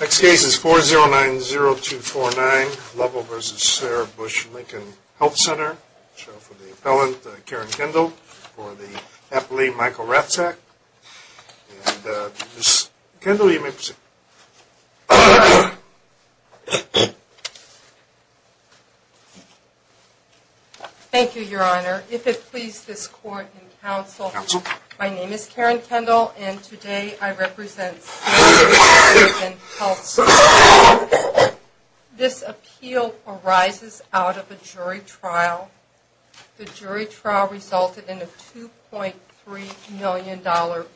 Next case is 4090249 Lovell v. Sarah Bush Lincoln Health Center. We shall have the appellant, Karen Kendall, for the happily Michael Ratzak. And Ms. Kendall, you may proceed. Thank you, Your Honor. If it please this court and counsel, My name is Karen Kendall and today I represent Sarah Bush Lincoln Health Center. This appeal arises out of a jury trial. The jury trial resulted in a $2.3 million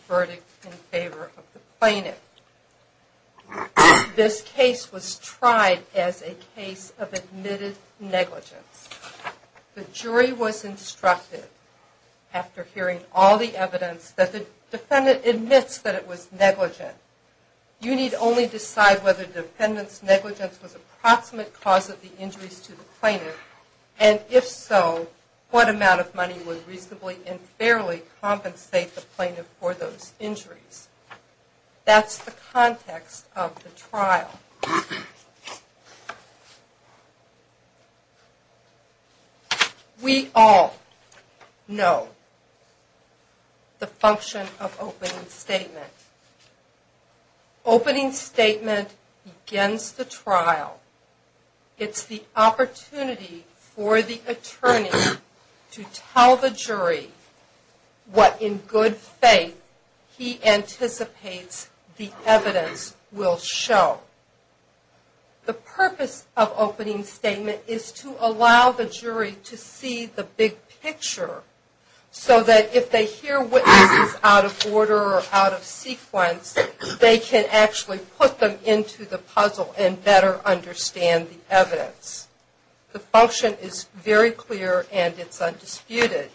verdict in favor of the plaintiff. This case was tried as a case of admitted negligence. The jury was instructed, after hearing all the evidence, that the defendant admits that it was negligent. You need only decide whether the defendant's negligence was an approximate cause of the injuries to the plaintiff, and if so, what amount of money would reasonably and fairly compensate the plaintiff for those injuries. We all know the function of opening statement. Opening statement begins the trial. It's the opportunity for the attorney to tell the jury what, in good faith, he anticipates the evidence will show. The purpose of opening statement is to allow the jury to see the big picture, so that if they hear witnesses out of order or out of sequence, they can actually put them into the puzzle and better understand the evidence. The function is very clear and it's undisputed.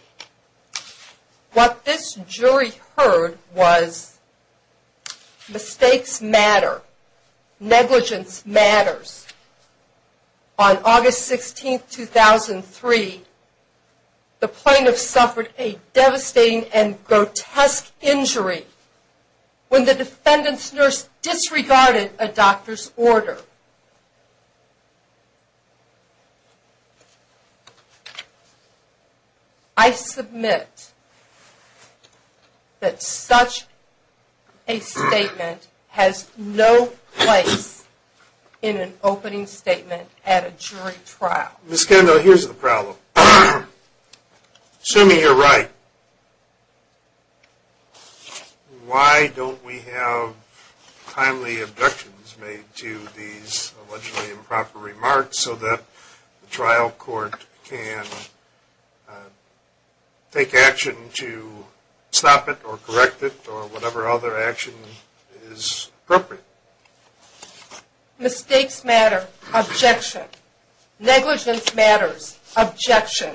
What this jury heard was, mistakes matter, negligence matters. On August 16, 2003, the plaintiff suffered a devastating and grotesque injury when the defendant's nurse disregarded a doctor's order. I submit that such a statement has no place in an opening statement at a jury trial. Ms. Kendall, here's the problem. Assuming you're right, why don't we have timely abductions made to the plaintiff? I'm going to make these allegedly improper remarks so that the trial court can take action to stop it or correct it or whatever other action is appropriate. Mistakes matter. Objection. Negligence matters. Objection.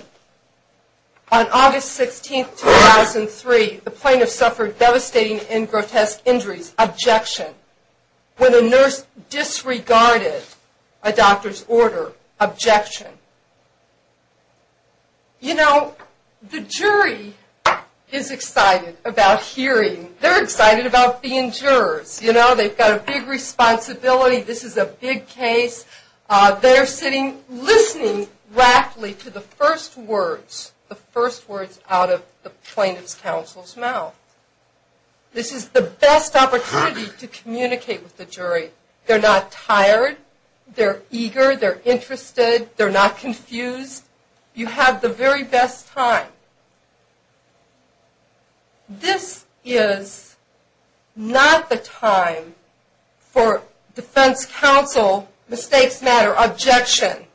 On August 16, 2003, the plaintiff suffered devastating and grotesque injuries. Objection. When a nurse disregarded a doctor's order. Objection. You know, the jury is excited about hearing. They're excited about being jurors. You know, they've got a big responsibility. This is a big case. They're sitting listening rapidly to the first words, the first words out of the plaintiff's counsel's mouth. This is the best opportunity to communicate with the jury. They're not tired. They're eager. They're interested. They're not confused. You have the very best time. This is not the time for defense counsel, mistakes matter, objection,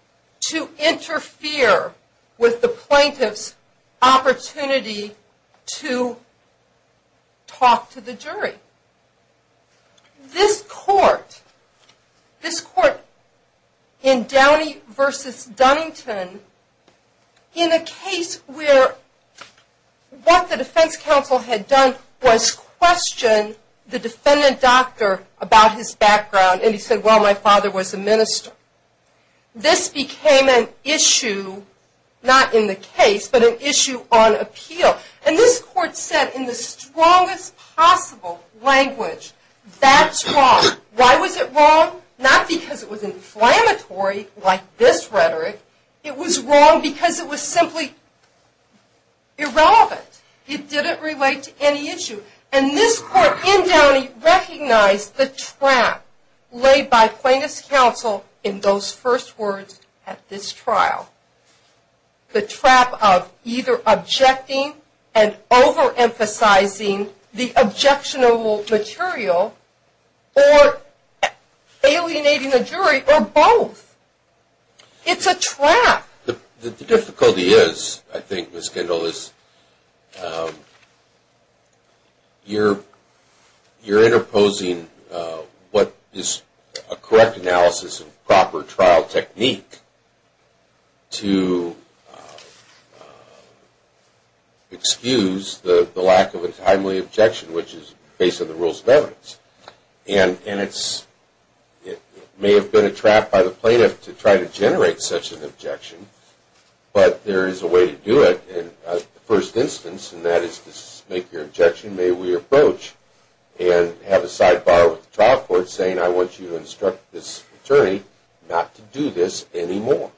to interfere with the plaintiff's opportunity to talk to the jury. This court, this court in Downey v. Dunnington, in a case where what the defense counsel had done was question the defendant doctor about his background and he said, well, my father was a minister. This became an issue, not in the case, but an issue on appeal. And this court said in the strongest possible language, that's wrong. Why was it wrong? Not because it was inflammatory like this rhetoric. It was wrong because it was simply irrelevant. It didn't relate to any issue. And this court in Downey recognized the trap laid by plaintiff's counsel in those first words at this trial. The trap of either objecting and overemphasizing the objectionable material or alienating the jury or both. It's a trap. The difficulty is, I think Ms. Kendall, is you're interposing what is a correct analysis and proper trial technique to excuse the lack of a timely objection, which is based on the rules of evidence. And it may have been a trap by the plaintiff to try to generate such an objection. But there is a way to do it in the first instance, and that is to make your objection, may we approach, and have a sidebar with the trial court saying, I want you to instruct this attorney not to do this anymore.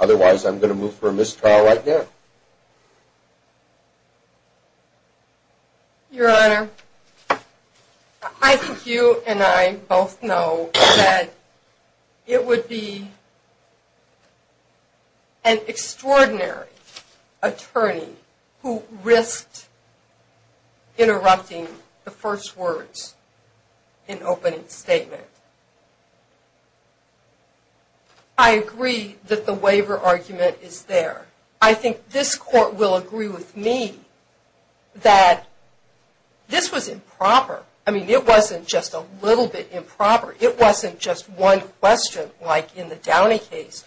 Otherwise, I'm going to move for a mistrial right now. Your Honor, I think you and I both know that it would be an extraordinary attorney who risked interrupting the first words in opening statement. I agree that the waiver argument is there. I think this court will agree with me that this was improper. I mean, it wasn't just a little bit improper. It wasn't just one question like in the Downey case.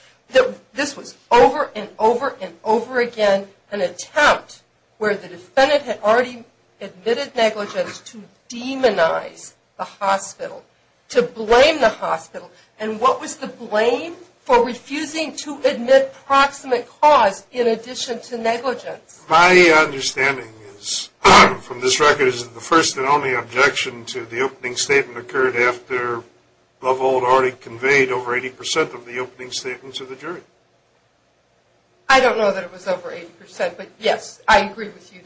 This was over and over and over again an attempt where the defendant had already admitted negligence to demonize the hospital, to blame the hospital. And what was the blame for refusing to admit proximate cause in addition to negligence? My understanding is, from this record, is that the first and only objection to the opening statement occurred after Lovehold already conveyed over 80 percent of the opening statement to the jury. I don't know that it was over 80 percent, but yes, I agree with you.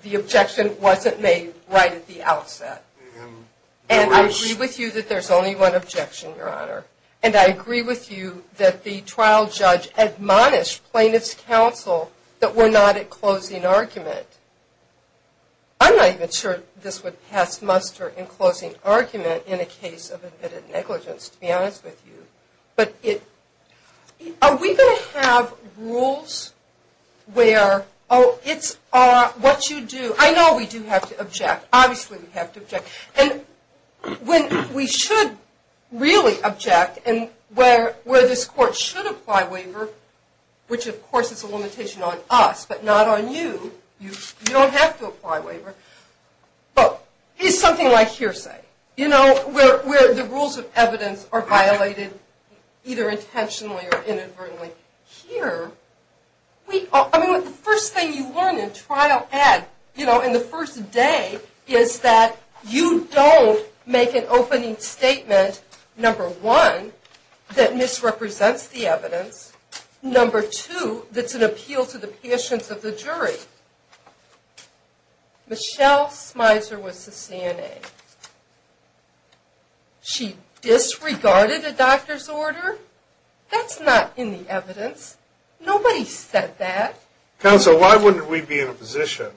The objection wasn't made right at the outset. And I agree with you that there's only one objection, Your Honor. And I agree with you that the trial judge admonished plaintiff's counsel that we're not at closing argument. I'm not even sure this would pass muster in closing argument in a case of admitted negligence, to be honest with you. Are we going to have rules where, oh, it's what you do. I know we do have to object. Obviously we have to object. And when we should really object and where this court should apply waiver, which of course is a limitation on us, but not on you. You don't have to apply waiver. But it's something like hearsay. You know, where the rules of evidence are violated either intentionally or inadvertently. Here, the first thing you learn in trial ed, you know, in the first day, is that you don't make an opening statement, number one, that misrepresents the evidence. Number two, that's an appeal to the patience of the jury. Number three, Michelle Smiser was the CNA. She disregarded a doctor's order? That's not in the evidence. Nobody said that. Counsel, why wouldn't we be in a position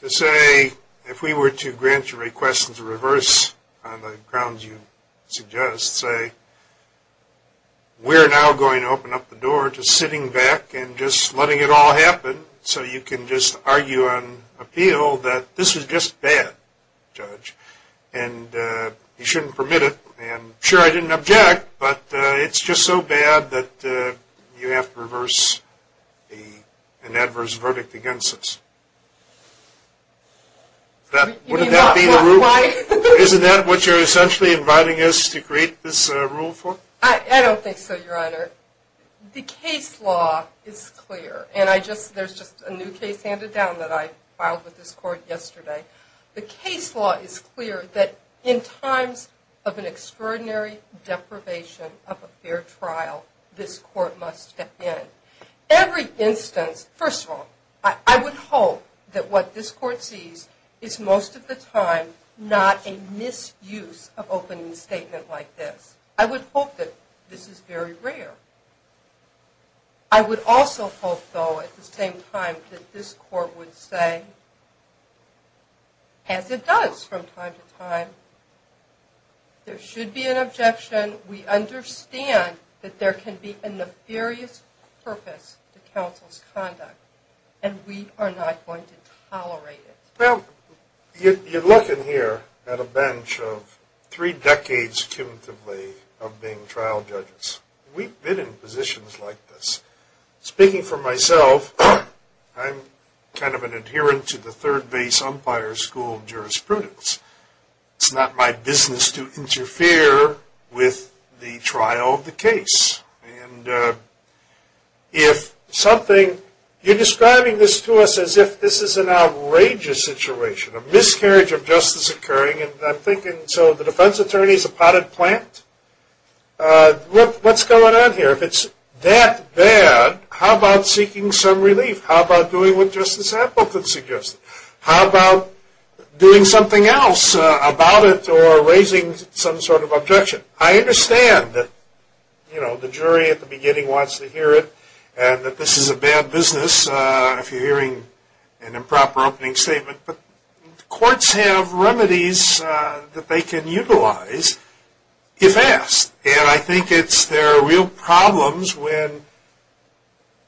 to say, if we were to grant your request in reverse on the grounds you suggest, say we're now going to open up the door to sitting back and just letting it all happen and just argue on appeal that this is just bad, judge. And you shouldn't permit it. And sure, I didn't object. But it's just so bad that you have to reverse an adverse verdict against us. Wouldn't that be the rule? Isn't that what you're essentially inviting us to create this rule for? I don't think so, Your Honor. The case law is clear. And there's just a new case handed down that I filed with this court yesterday. The case law is clear that in times of an extraordinary deprivation of a fair trial, this court must step in. Every instance, first of all, I would hope that what this court sees is most of the time not a misuse of opening statement like this. I would hope that this is very rare. I would also hope, though, at the same time that this court would say, as it does from time to time, there should be an objection. We understand that there can be a nefarious purpose to counsel's conduct. And we are not going to tolerate it. Well, you're looking here at a bench of three decades, of being trial judges. We've been in positions like this. Speaking for myself, I'm kind of an adherent to the third base umpire school of jurisprudence. It's not my business to interfere with the trial of the case. And if something, you're describing this to us as if this is an outrageous situation, a miscarriage of justice occurring. And I'm thinking, so the defense attorney is a potted plant? What's going on here? If it's that bad, how about seeking some relief? How about doing what Justice Appleton suggested? How about doing something else about it or raising some sort of objection? I understand that the jury at the beginning wants to hear it, and that this is a bad business if you're hearing an improper opening statement. But courts have remedies that they can utilize if asked. And I think it's, there are real problems when,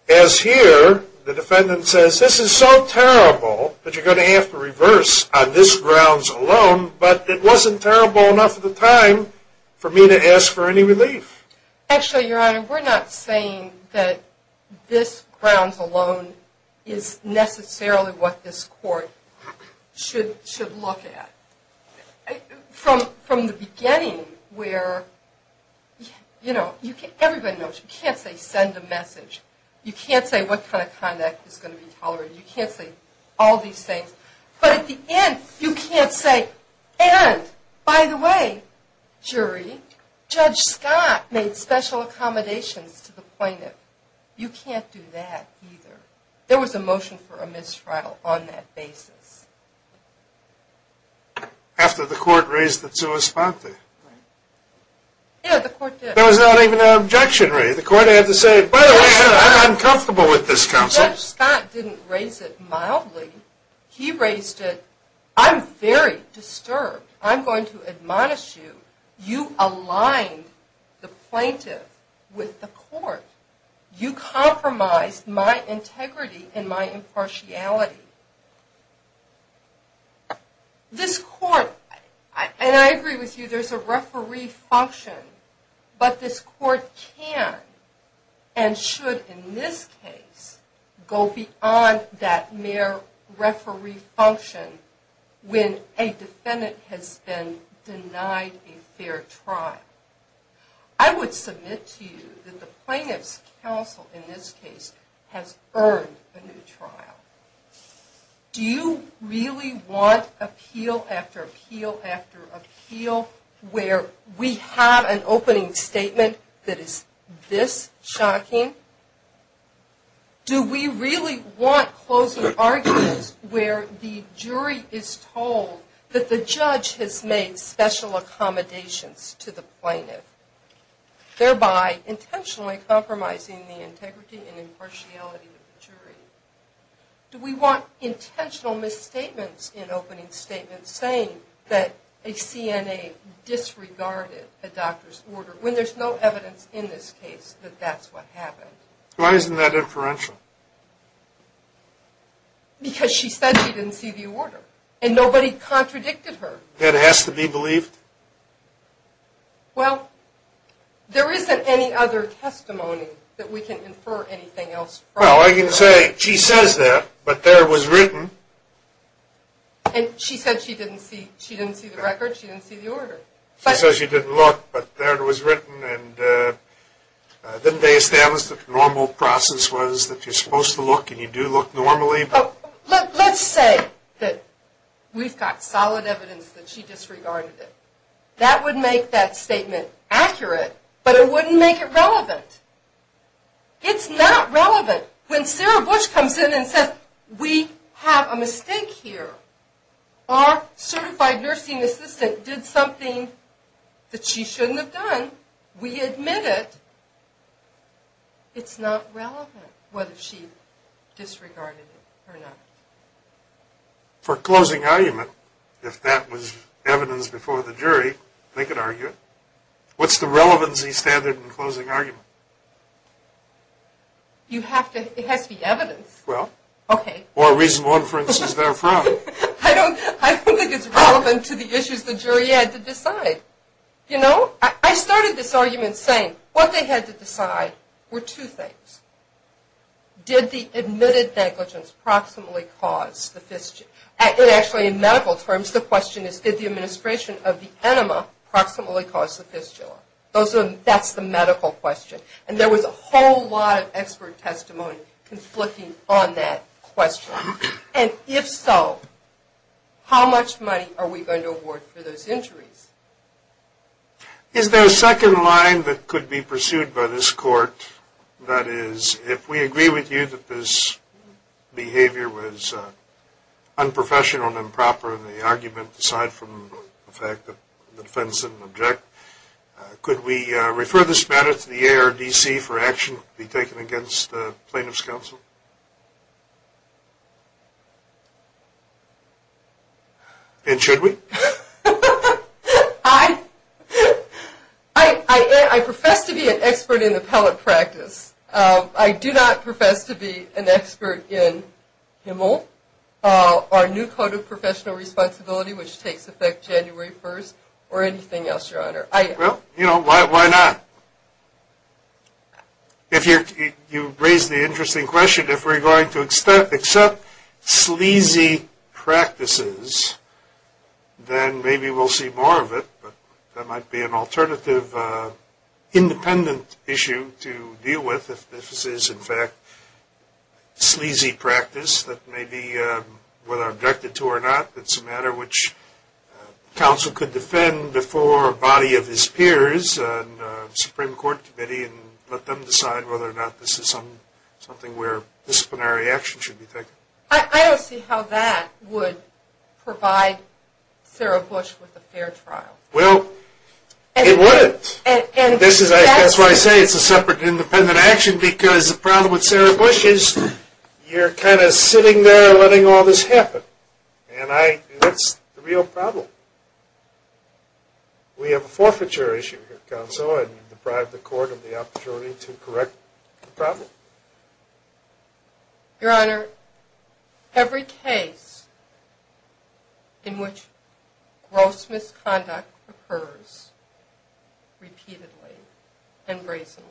as here, the defendant says, this is so terrible that you're going to have to reverse on this grounds alone. But it wasn't terrible enough at the time for me to ask for any relief. Actually, your honor, we're not saying that this grounds alone is necessarily what this court should be doing. Or should look at. From the beginning where, you know, everybody knows you can't say send a message. You can't say what kind of conduct is going to be tolerated. You can't say all these things. But at the end, you can't say, and by the way, jury, Judge Scott made special accommodations to the plaintiff. You can't do that either. There was a motion for a mistrial on that basis. After the court raised the sua sponte. Yeah, the court did. There was not even an objection raised. The court had to say, by the way, I'm uncomfortable with this counsel. Judge Scott didn't raise it mildly. He raised it, I'm very disturbed. I'm going to admonish you. You aligned the plaintiff with the court. You compromised my integrity and my impartiality. This court, and I agree with you, there's a referee function. But this court can, and should in this case, go beyond that mere referee function when a defendant has been denied a fair trial. I would submit to you that the plaintiff's counsel in this case has earned a new trial. Do you really want appeal after appeal after appeal where we have an opening statement that is this shocking? Do we really want closing arguments where the jury is told that the judge has made special accommodations to the plaintiff, thereby intentionally compromising the integrity and impartiality of the jury? Do we want intentional misstatements in opening statements saying that a CNA disregarded a doctor's order when there's no evidence in this case that that's what happened? Why isn't that inferential? Because she said she didn't see the order. And nobody contradicted her. That has to be believed? Well, there isn't any other testimony that we can infer anything else from. Well, I can say she says that, but there it was written. And she said she didn't see the record, she didn't see the order. She said she didn't look, but there it was written. And didn't they establish that the normal process was that you're supposed to look and you do look normally? Let's say that we've got solid evidence that she disregarded it. That would make that statement accurate, but it wouldn't make it relevant. It's not relevant. When Sarah Bush comes in and says, we have a mistake here. Our certified nursing assistant did something that she shouldn't have done. We admit it. It's not relevant whether she disregarded it. Or not. For closing argument, if that was evidence before the jury, they could argue it. What's the relevancy standard in closing argument? You have to, it has to be evidence. Well. Okay. Or reason one, for instance, they're a fraud. I don't think it's relevant to the issues the jury had to decide. You know, I started this argument saying what they had to decide were two things. Did the admitted negligence proximally cause the fistula? Actually, in medical terms, the question is did the administration of the enema proximally cause the fistula? That's the medical question. And there was a whole lot of expert testimony conflicting on that question. And if so, how much money are we going to award for those injuries? Is there a second line that could be pursued by this court? That is, if we agree with you that this behavior was unprofessional and improper in the argument, aside from the fact that the defense didn't object, could we refer this matter to the ARDC for action to be taken against plaintiff's counsel? And should we? I profess to be an expert in appellate practice. I do not profess to be an expert in HMEL or new code of professional responsibility, which takes effect January 1st, or anything else, Your Honor. Well, you know, why not? If you raise the interesting question, if we're going to accept sleazy practices, then maybe we'll see more of it, but that might be an alternative independent issue to deal with, if this is, in fact, sleazy practice that may be, whether objected to or not, it's a matter which counsel could defend before a body of his peers, the Supreme Court Committee, and let them decide whether or not this is something where disciplinary action should be taken. I don't see how that would provide Sarah Bush with a fair trial. Well, it wouldn't. That's why I say it's a separate independent action, because the problem with Sarah Bush is you're kind of sitting there letting all this happen, and that's the real problem. We have a forfeiture issue here, counsel, and you've deprived the Court of the opportunity to correct the problem. Your Honor, every case in which gross misconduct occurs repeatedly and brazenly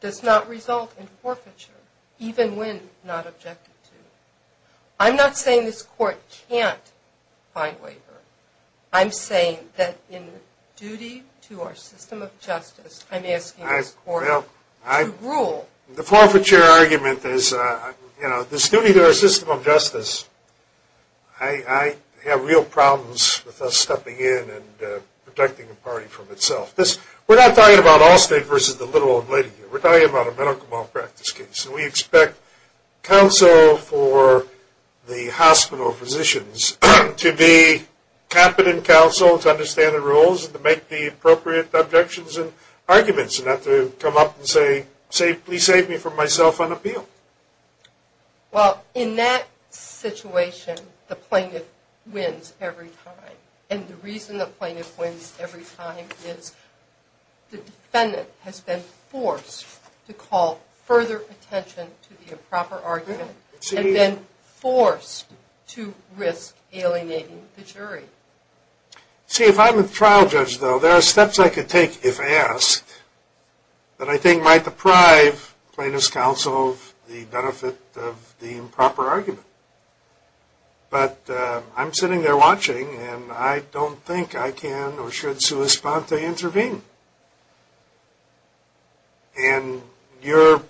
does not result in forfeiture, even when not objected to. I'm not saying this Court can't find waiver. I'm saying that in duty to our system of justice, I'm asking this Court to rule. The forfeiture argument is, you know, this duty to our system of justice, I have real problems with us stepping in and protecting the party from itself. We're not talking about Allstate versus the little old lady here. We're talking about a medical malpractice case, and we expect counsel for the hospital physicians to be competent counsel, to understand the rules, and to make the appropriate objections and arguments, and not to come up and say, please save me from myself on appeal. Well, in that situation, the plaintiff wins every time, and the reason the plaintiff wins every time is the defendant has been forced to call further attention to the improper argument, and then forced to risk alienating the jury. See, if I'm a trial judge, though, there are steps I could take if asked that I think might deprive plaintiff's counsel of the benefit of the improper argument. But I'm sitting there watching, and I don't think I can or should sui sponte intervene. And you're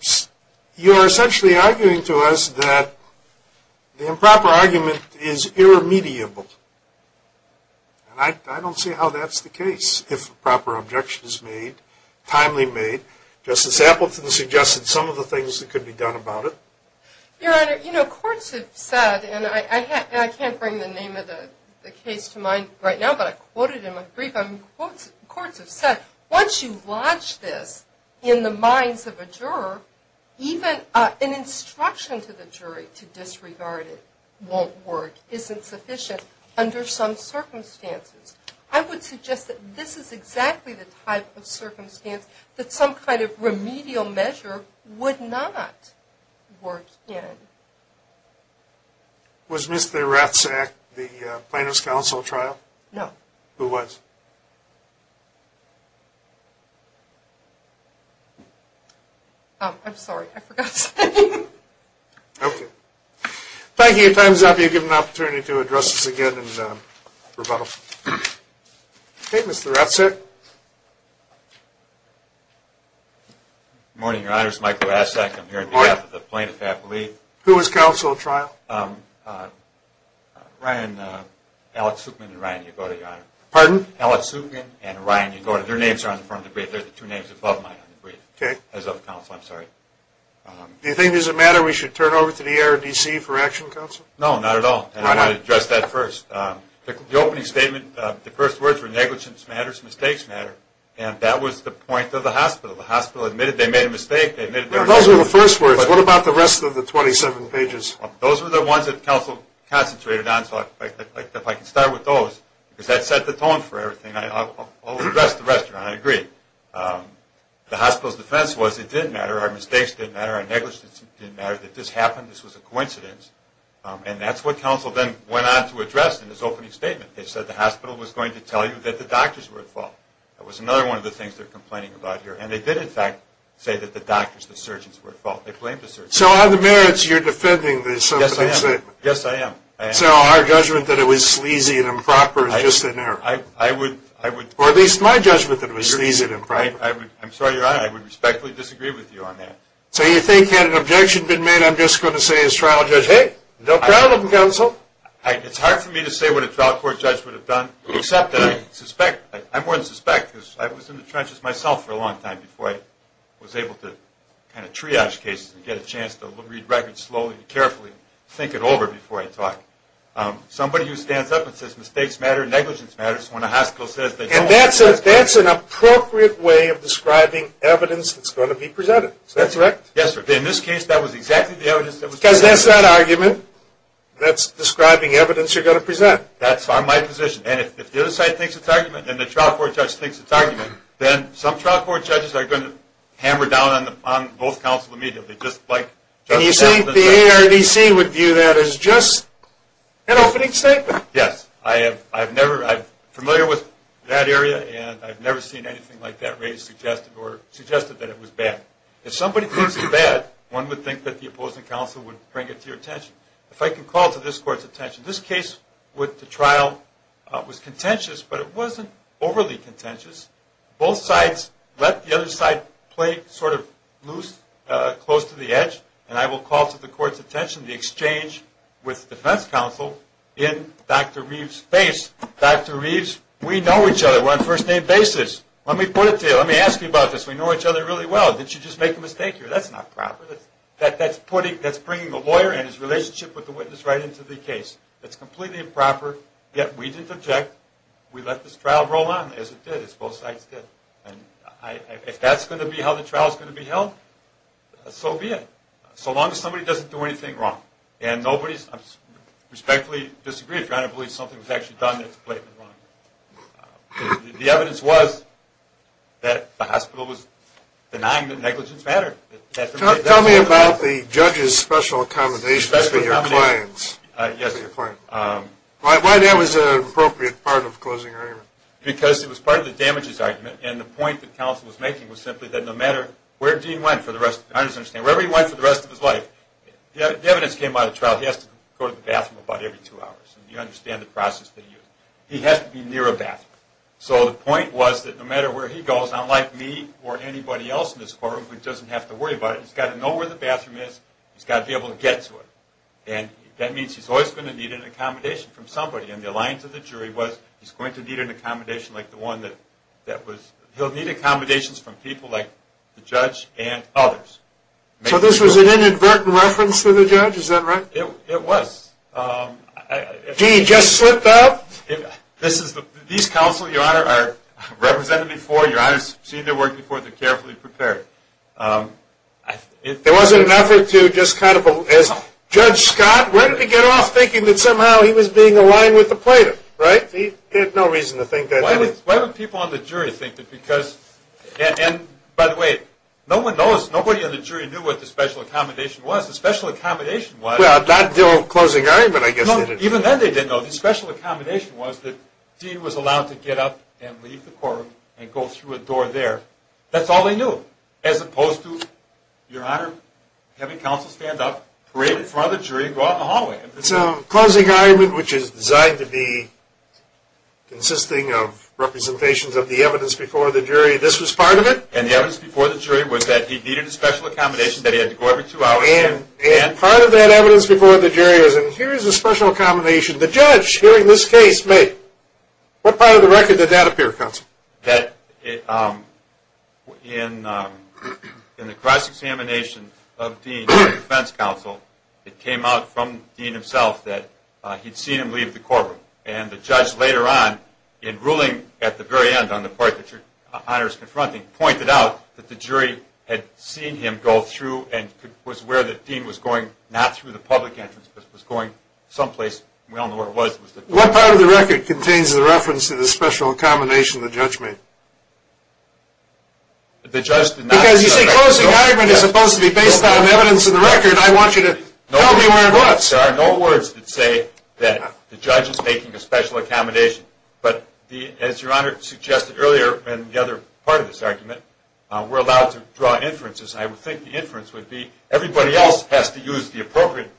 essentially arguing to us that the improper argument is irremediable. And I don't see how that's the case, if proper objection is made, timely made. Justice Appleton suggested some of the things that could be done about it. Your Honor, you know, courts have said, and I can't bring the name of the case to mind right now, but I quoted in my brief, courts have said, once you lodge this in the minds of a juror, even an instruction to the jury to disregard it won't work, isn't sufficient under some circumstances. I would suggest that this is exactly the type of circumstance that some kind of remedial measure would not work in. Was Mr. Ratzak the plaintiff's counsel at trial? Who was? I'm sorry, I forgot to say. Okay. Thank you. Time is up. You're given an opportunity to address us again in rebuttal. Okay, Mr. Ratzak. Good morning, Your Honor. This is Michael Ratzak. I'm here on behalf of the plaintiff at relief. Who was counsel at trial? Ryan, Alex Sukman and Ryan Yagoda, Your Honor. Pardon? Alex Sukman and Ryan Yagoda. Their names are on the front of the brief. They're the two names above mine on the brief. Okay. As of counsel, I'm sorry. Do you think there's a matter we should turn over to the ARDC for action, counsel? No, not at all. Why not? And I want to address that first. The opening statement, the first words were negligence matters, mistakes matter. And that was the point of the hospital. The hospital admitted they made a mistake. Those were the first words. What about the rest of the 27 pages? Those were the ones that counsel concentrated on. So if I can start with those, because that set the tone for everything. I'll address the rest of it. I agree. The hospital's defense was it didn't matter. Our mistakes didn't matter. Our negligence didn't matter. That this happened, this was a coincidence. And that's what counsel then went on to address in his opening statement. They said the hospital was going to tell you that the doctors were at fault. That was another one of the things they're complaining about here. And they did, in fact, say that the doctors, the surgeons were at fault. They blamed the surgeons. So on the merits, you're defending the circumstances. Yes, I am. Yes, I am. So our judgment that it was sleazy and improper is just an error. I would. Or at least my judgment that it was sleazy and improper. I'm sorry, Your Honor, I would respectfully disagree with you on that. So you think had an objection been made, I'm just going to say as trial judge, Hey, no problem, counsel. It's hard for me to say what a trial court judge would have done, except that I suspect, I'm more than suspect, because I was in the trenches myself for a long time before I was able to kind of triage cases and get a chance to read records slowly and carefully, think it over before I talk. Somebody who stands up and says mistakes matter, negligence matters, when a hospital says they don't. And that's an appropriate way of describing evidence that's going to be presented. Is that correct? Yes, sir. In this case, that was exactly the evidence that was presented. Because that's that argument. That's describing evidence you're going to present. That's my position. And if the other side thinks it's argument, and the trial court judge thinks it's argument, then some trial court judges are going to hammer down on both counsel immediately. And you think the ARDC would view that as just an opening statement? Yes. I'm familiar with that area, and I've never seen anything like that raised or suggested that it was bad. If somebody thinks it's bad, one would think that the opposing counsel would bring it to your attention. If I can call to this court's attention, this case with the trial was contentious, but it wasn't overly contentious. Both sides let the other side play sort of loose, close to the edge. And I will call to the court's attention the exchange with defense counsel in Dr. Reeves' face. Dr. Reeves, we know each other. We're on first-name basis. Let me put it to you. Let me ask you about this. We know each other really well. Did she just make a mistake here? That's not proper. That's bringing the lawyer and his relationship with the witness right into the case. That's completely improper. Yet we didn't object. We let this trial roll on as it did, as both sides did. And if that's going to be how the trial is going to be held, so be it, so long as somebody doesn't do anything wrong. And nobody respectfully disagrees. I don't believe something was actually done that's blatantly wrong. The evidence was that the hospital was denying the negligence matter. Tell me about the judge's special accommodations for your clients. Yes. Why that was an appropriate part of closing your argument? Because it was part of the damages argument, and the point that counsel was making was simply that no matter where Dean went for the rest of his life, the evidence came out of the trial, he has to go to the bathroom about every two hours. You understand the process that he used. He has to be near a bathroom. So the point was that no matter where he goes, unlike me or anybody else in this courtroom who doesn't have to worry about it, he's got to know where the bathroom is, he's got to be able to get to it. And that means he's always going to need an accommodation from somebody, and the alliance of the jury was he's going to need an accommodation like the one that was, he'll need accommodations from people like the judge and others. So this was an inadvertent reference to the judge, is that right? It was. Dean just slipped up? These counsel, Your Honor, are represented before, Your Honor's seen their work before, they're carefully prepared. There wasn't an effort to just kind of, as Judge Scott, where did he get off thinking that somehow he was being aligned with the plaintiff, right? He had no reason to think that way. Why don't people on the jury think that because, and by the way, no one knows, nobody on the jury knew what the special accommodation was. The special accommodation was. Well, not until closing argument, I guess. No, even then they didn't know. The special accommodation was that Dean was allowed to get up and leave the courtroom and go through a door there. That's all they knew. As opposed to, Your Honor, having counsel stand up, parade in front of the jury and go out in the hallway. So closing argument, which is designed to be consisting of representations of the evidence before the jury, this was part of it? And the evidence before the jury was that he needed a special accommodation that he had to go every two hours. And part of that evidence before the jury is, and here is a special accommodation, the judge hearing this case made. What part of the record did that appear, counsel? That in the cross-examination of Dean and defense counsel, it came out from Dean himself that he'd seen him leave the courtroom. And the judge later on, in ruling at the very end on the part that Your Honor is confronting, pointed out that the jury had seen him go through and was aware that Dean was going not through the public entrance, but was going someplace. We don't know where it was. What part of the record contains the reference to the special accommodation the judge made? The judge did not. Because, you see, closing argument is supposed to be based on evidence in the record. I want you to tell me where it was. There are no words that say that the judge is making a special accommodation. But as Your Honor suggested earlier in the other part of this argument, we're allowed to draw inferences. I would think the inference would be everybody else has to use the appropriate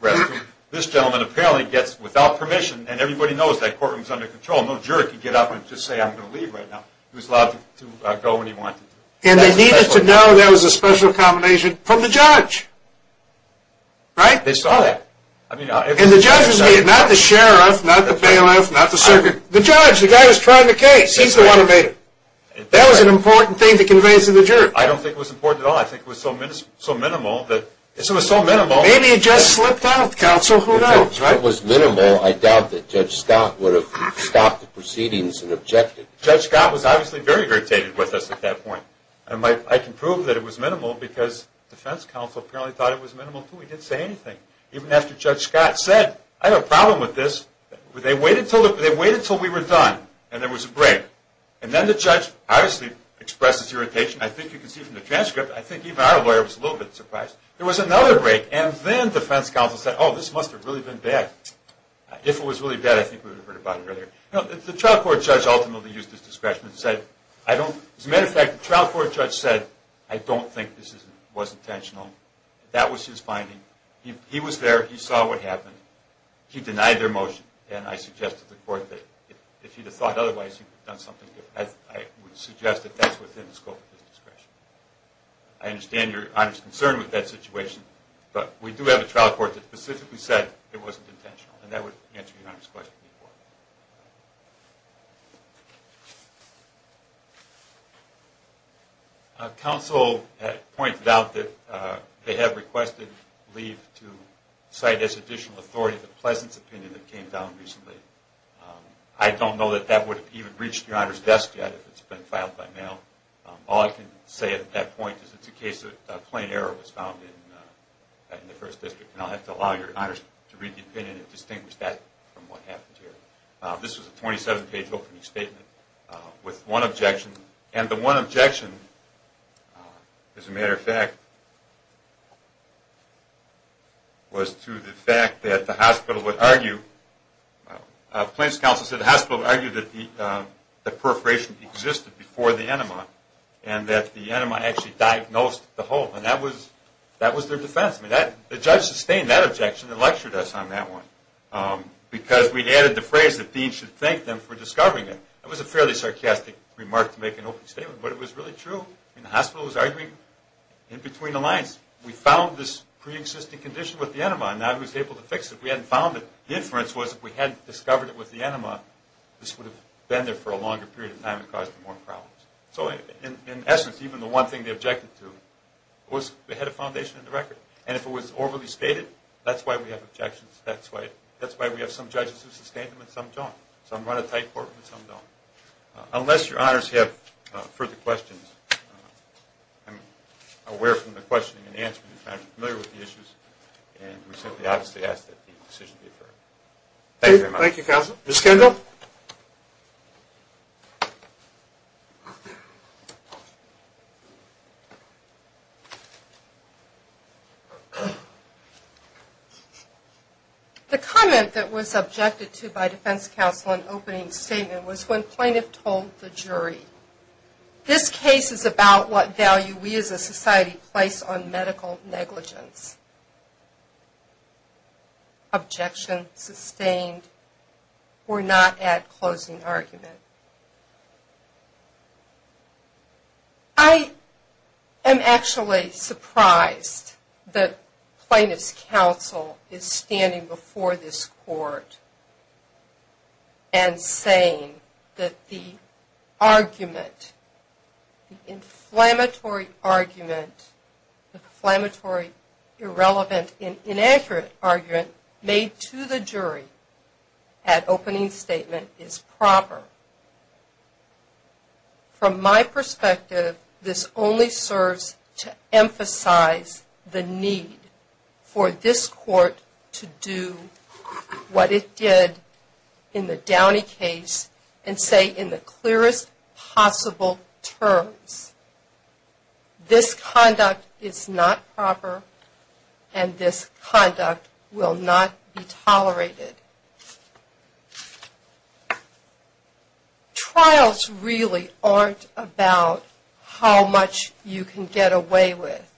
reference. This gentleman apparently gets, without permission, and everybody knows that courtroom is under control, no juror can get up and just say, I'm going to leave right now. He was allowed to go when he wanted to. And they needed to know there was a special accommodation from the judge. Right? They saw that. And the judge was made, not the sheriff, not the bailiff, not the circuit. The judge, the guy who's trying the case, he's the one who made it. That was an important thing to convey to the juror. I don't think it was important at all. I think it was so minimal that it was so minimal. Maybe it just slipped out. Counsel, who knows? If it was minimal, I doubt that Judge Scott would have stopped the proceedings and objected. Judge Scott was obviously very irritated with us at that point. I can prove that it was minimal because defense counsel apparently thought it was minimal, too. He didn't say anything. Even after Judge Scott said, I have a problem with this, they waited until we were done, and there was a break. And then the judge obviously expresses irritation. I think you can see from the transcript. I think even our lawyer was a little bit surprised. There was another break, and then defense counsel said, oh, this must have really been bad. If it was really bad, I think we would have heard about it earlier. The trial court judge ultimately used his discretion and said, as a matter of fact, the trial court judge said, I don't think this was intentional. That was his finding. He was there. He saw what happened. He denied their motion, and I suggested to the court that if he'd have thought otherwise, he would have done something different. I would suggest that that's within the scope of his discretion. I understand Your Honor's concern with that situation, but we do have a trial court that specifically said it wasn't intentional, and that would answer Your Honor's question. Counsel pointed out that they have requested leave to cite as additional authority the Pleasant's opinion that came down recently. I don't know that that would have even reached Your Honor's desk yet if it's been filed by mail. All I can say at that point is it's a case that a plain error was found in the First District, and I'll have to allow Your Honor to read the opinion and distinguish that from what happened here. This was a 27-page opening statement with one objection. And the one objection, as a matter of fact, was to the fact that the hospital would argue, the plaintiff's counsel said the hospital argued that perforation existed before the enema, and that the enema actually diagnosed the hole. And that was their defense. The judge sustained that objection and lectured us on that one because we added the phrase that Dean should thank them for discovering it. It was a fairly sarcastic remark to make an open statement, but it was really true. The hospital was arguing in between the lines. We found this preexisting condition with the enema, and now he was able to fix it. We hadn't found it. The inference was if we hadn't discovered it with the enema, this would have been there for a longer period of time and caused more problems. So in essence, even the one thing they objected to was they had a foundation in the record. And if it was overly stated, that's why we have objections. That's why we have some judges who sustain them and some don't. Some run a tight courtroom and some don't. Unless Your Honors have further questions, I'm aware from the questioning and answering with the issues, and we simply obviously ask that the decision be approved. Thank you very much. Thank you, Counsel. Ms. Kendall? The comment that was objected to by defense counsel in opening statement was when plaintiff told the jury, this case is about what value we as a society place on medical negligence. Objection sustained. We're not at closing argument. I am actually surprised that plaintiff's counsel is standing before this court and saying that the argument, inflammatory argument, inflammatory irrelevant and inaccurate argument made to the jury at opening statement is proper. From my perspective, this only serves to emphasize the need for this court to do what it did in the Downey case and say in the clearest possible terms, this conduct is not proper and this conduct will not be tolerated. Trials really aren't about how much you can get away with.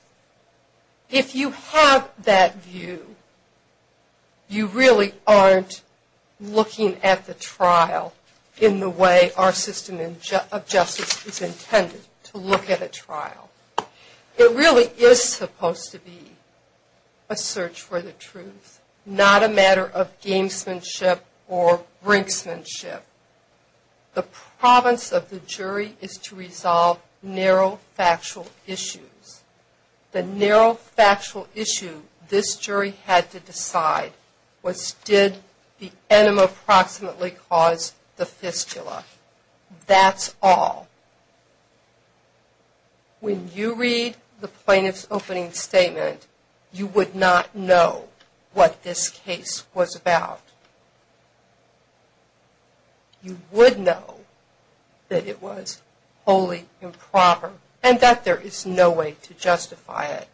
If you have that view, you really aren't looking at the trial in the way our system of justice is intended to look at a trial. It really is supposed to be a search for the truth, not a matter of gamesmanship or brinksmanship. The province of the jury is to resolve narrow factual issues. The narrow factual issue this jury had to decide was did the enema approximately cause the fistula. That's all. When you read the plaintiff's opening statement, you would not know what this case was about. You would know that it was wholly improper and that there is no way to justify it.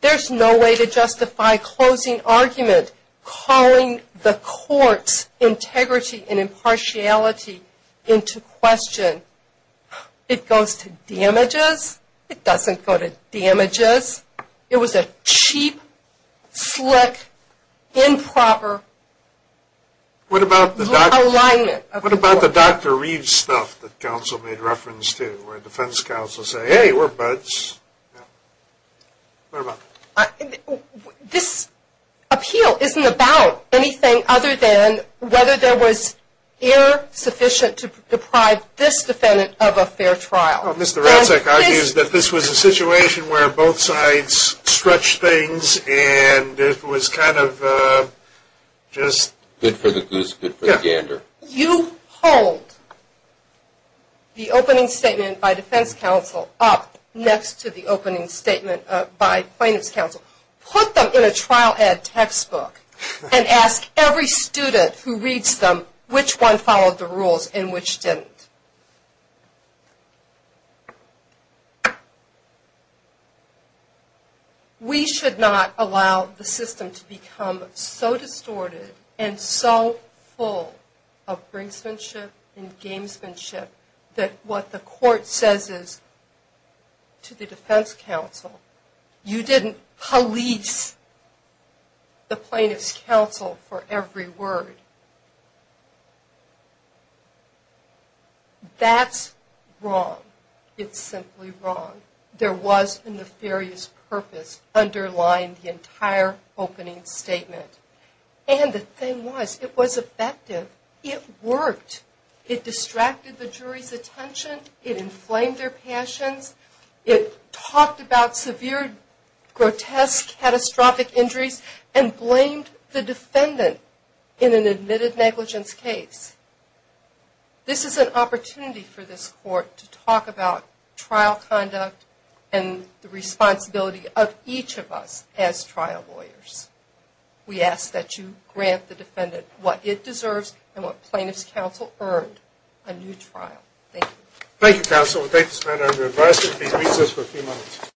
There's no way to justify closing argument, calling the court's integrity and impartiality into question. It goes to damages. It doesn't go to damages. It was a cheap, slick, improper alignment of the court. What about the Dr. Reed stuff that counsel made reference to, where defense counsel say, hey, we're buds. What about that? This appeal isn't about anything other than whether there was error sufficient to deprive this defendant of a fair trial. Mr. Radzak argues that this was a situation where both sides stretched things and it was kind of just good for the goose, good for the gander. You hold the opening statement by defense counsel up next to the opening statement by plaintiff's counsel, put them in a trial ed textbook, and ask every student who reads them which one followed the rules and which didn't. We should not allow the system to become so distorted and so full of brinksmanship and gamesmanship that what the court says is to the defense counsel, you didn't police the plaintiff's counsel for every word. That's wrong. It's simply wrong. There was a nefarious purpose underlying the entire opening statement. And the thing was, it was effective. It worked. It distracted the jury's attention. It inflamed their passions. It talked about severe, grotesque, catastrophic injuries and blamed the defendant in an admitted negligence case. This is an opportunity for this court to talk about trial conduct and the responsibility of each of us as trial lawyers. We ask that you grant the defendant what it deserves and what plaintiff's counsel earned, a new trial. Thank you. Thank you, counsel. We'll take this matter under advisement. Please recess for a few moments.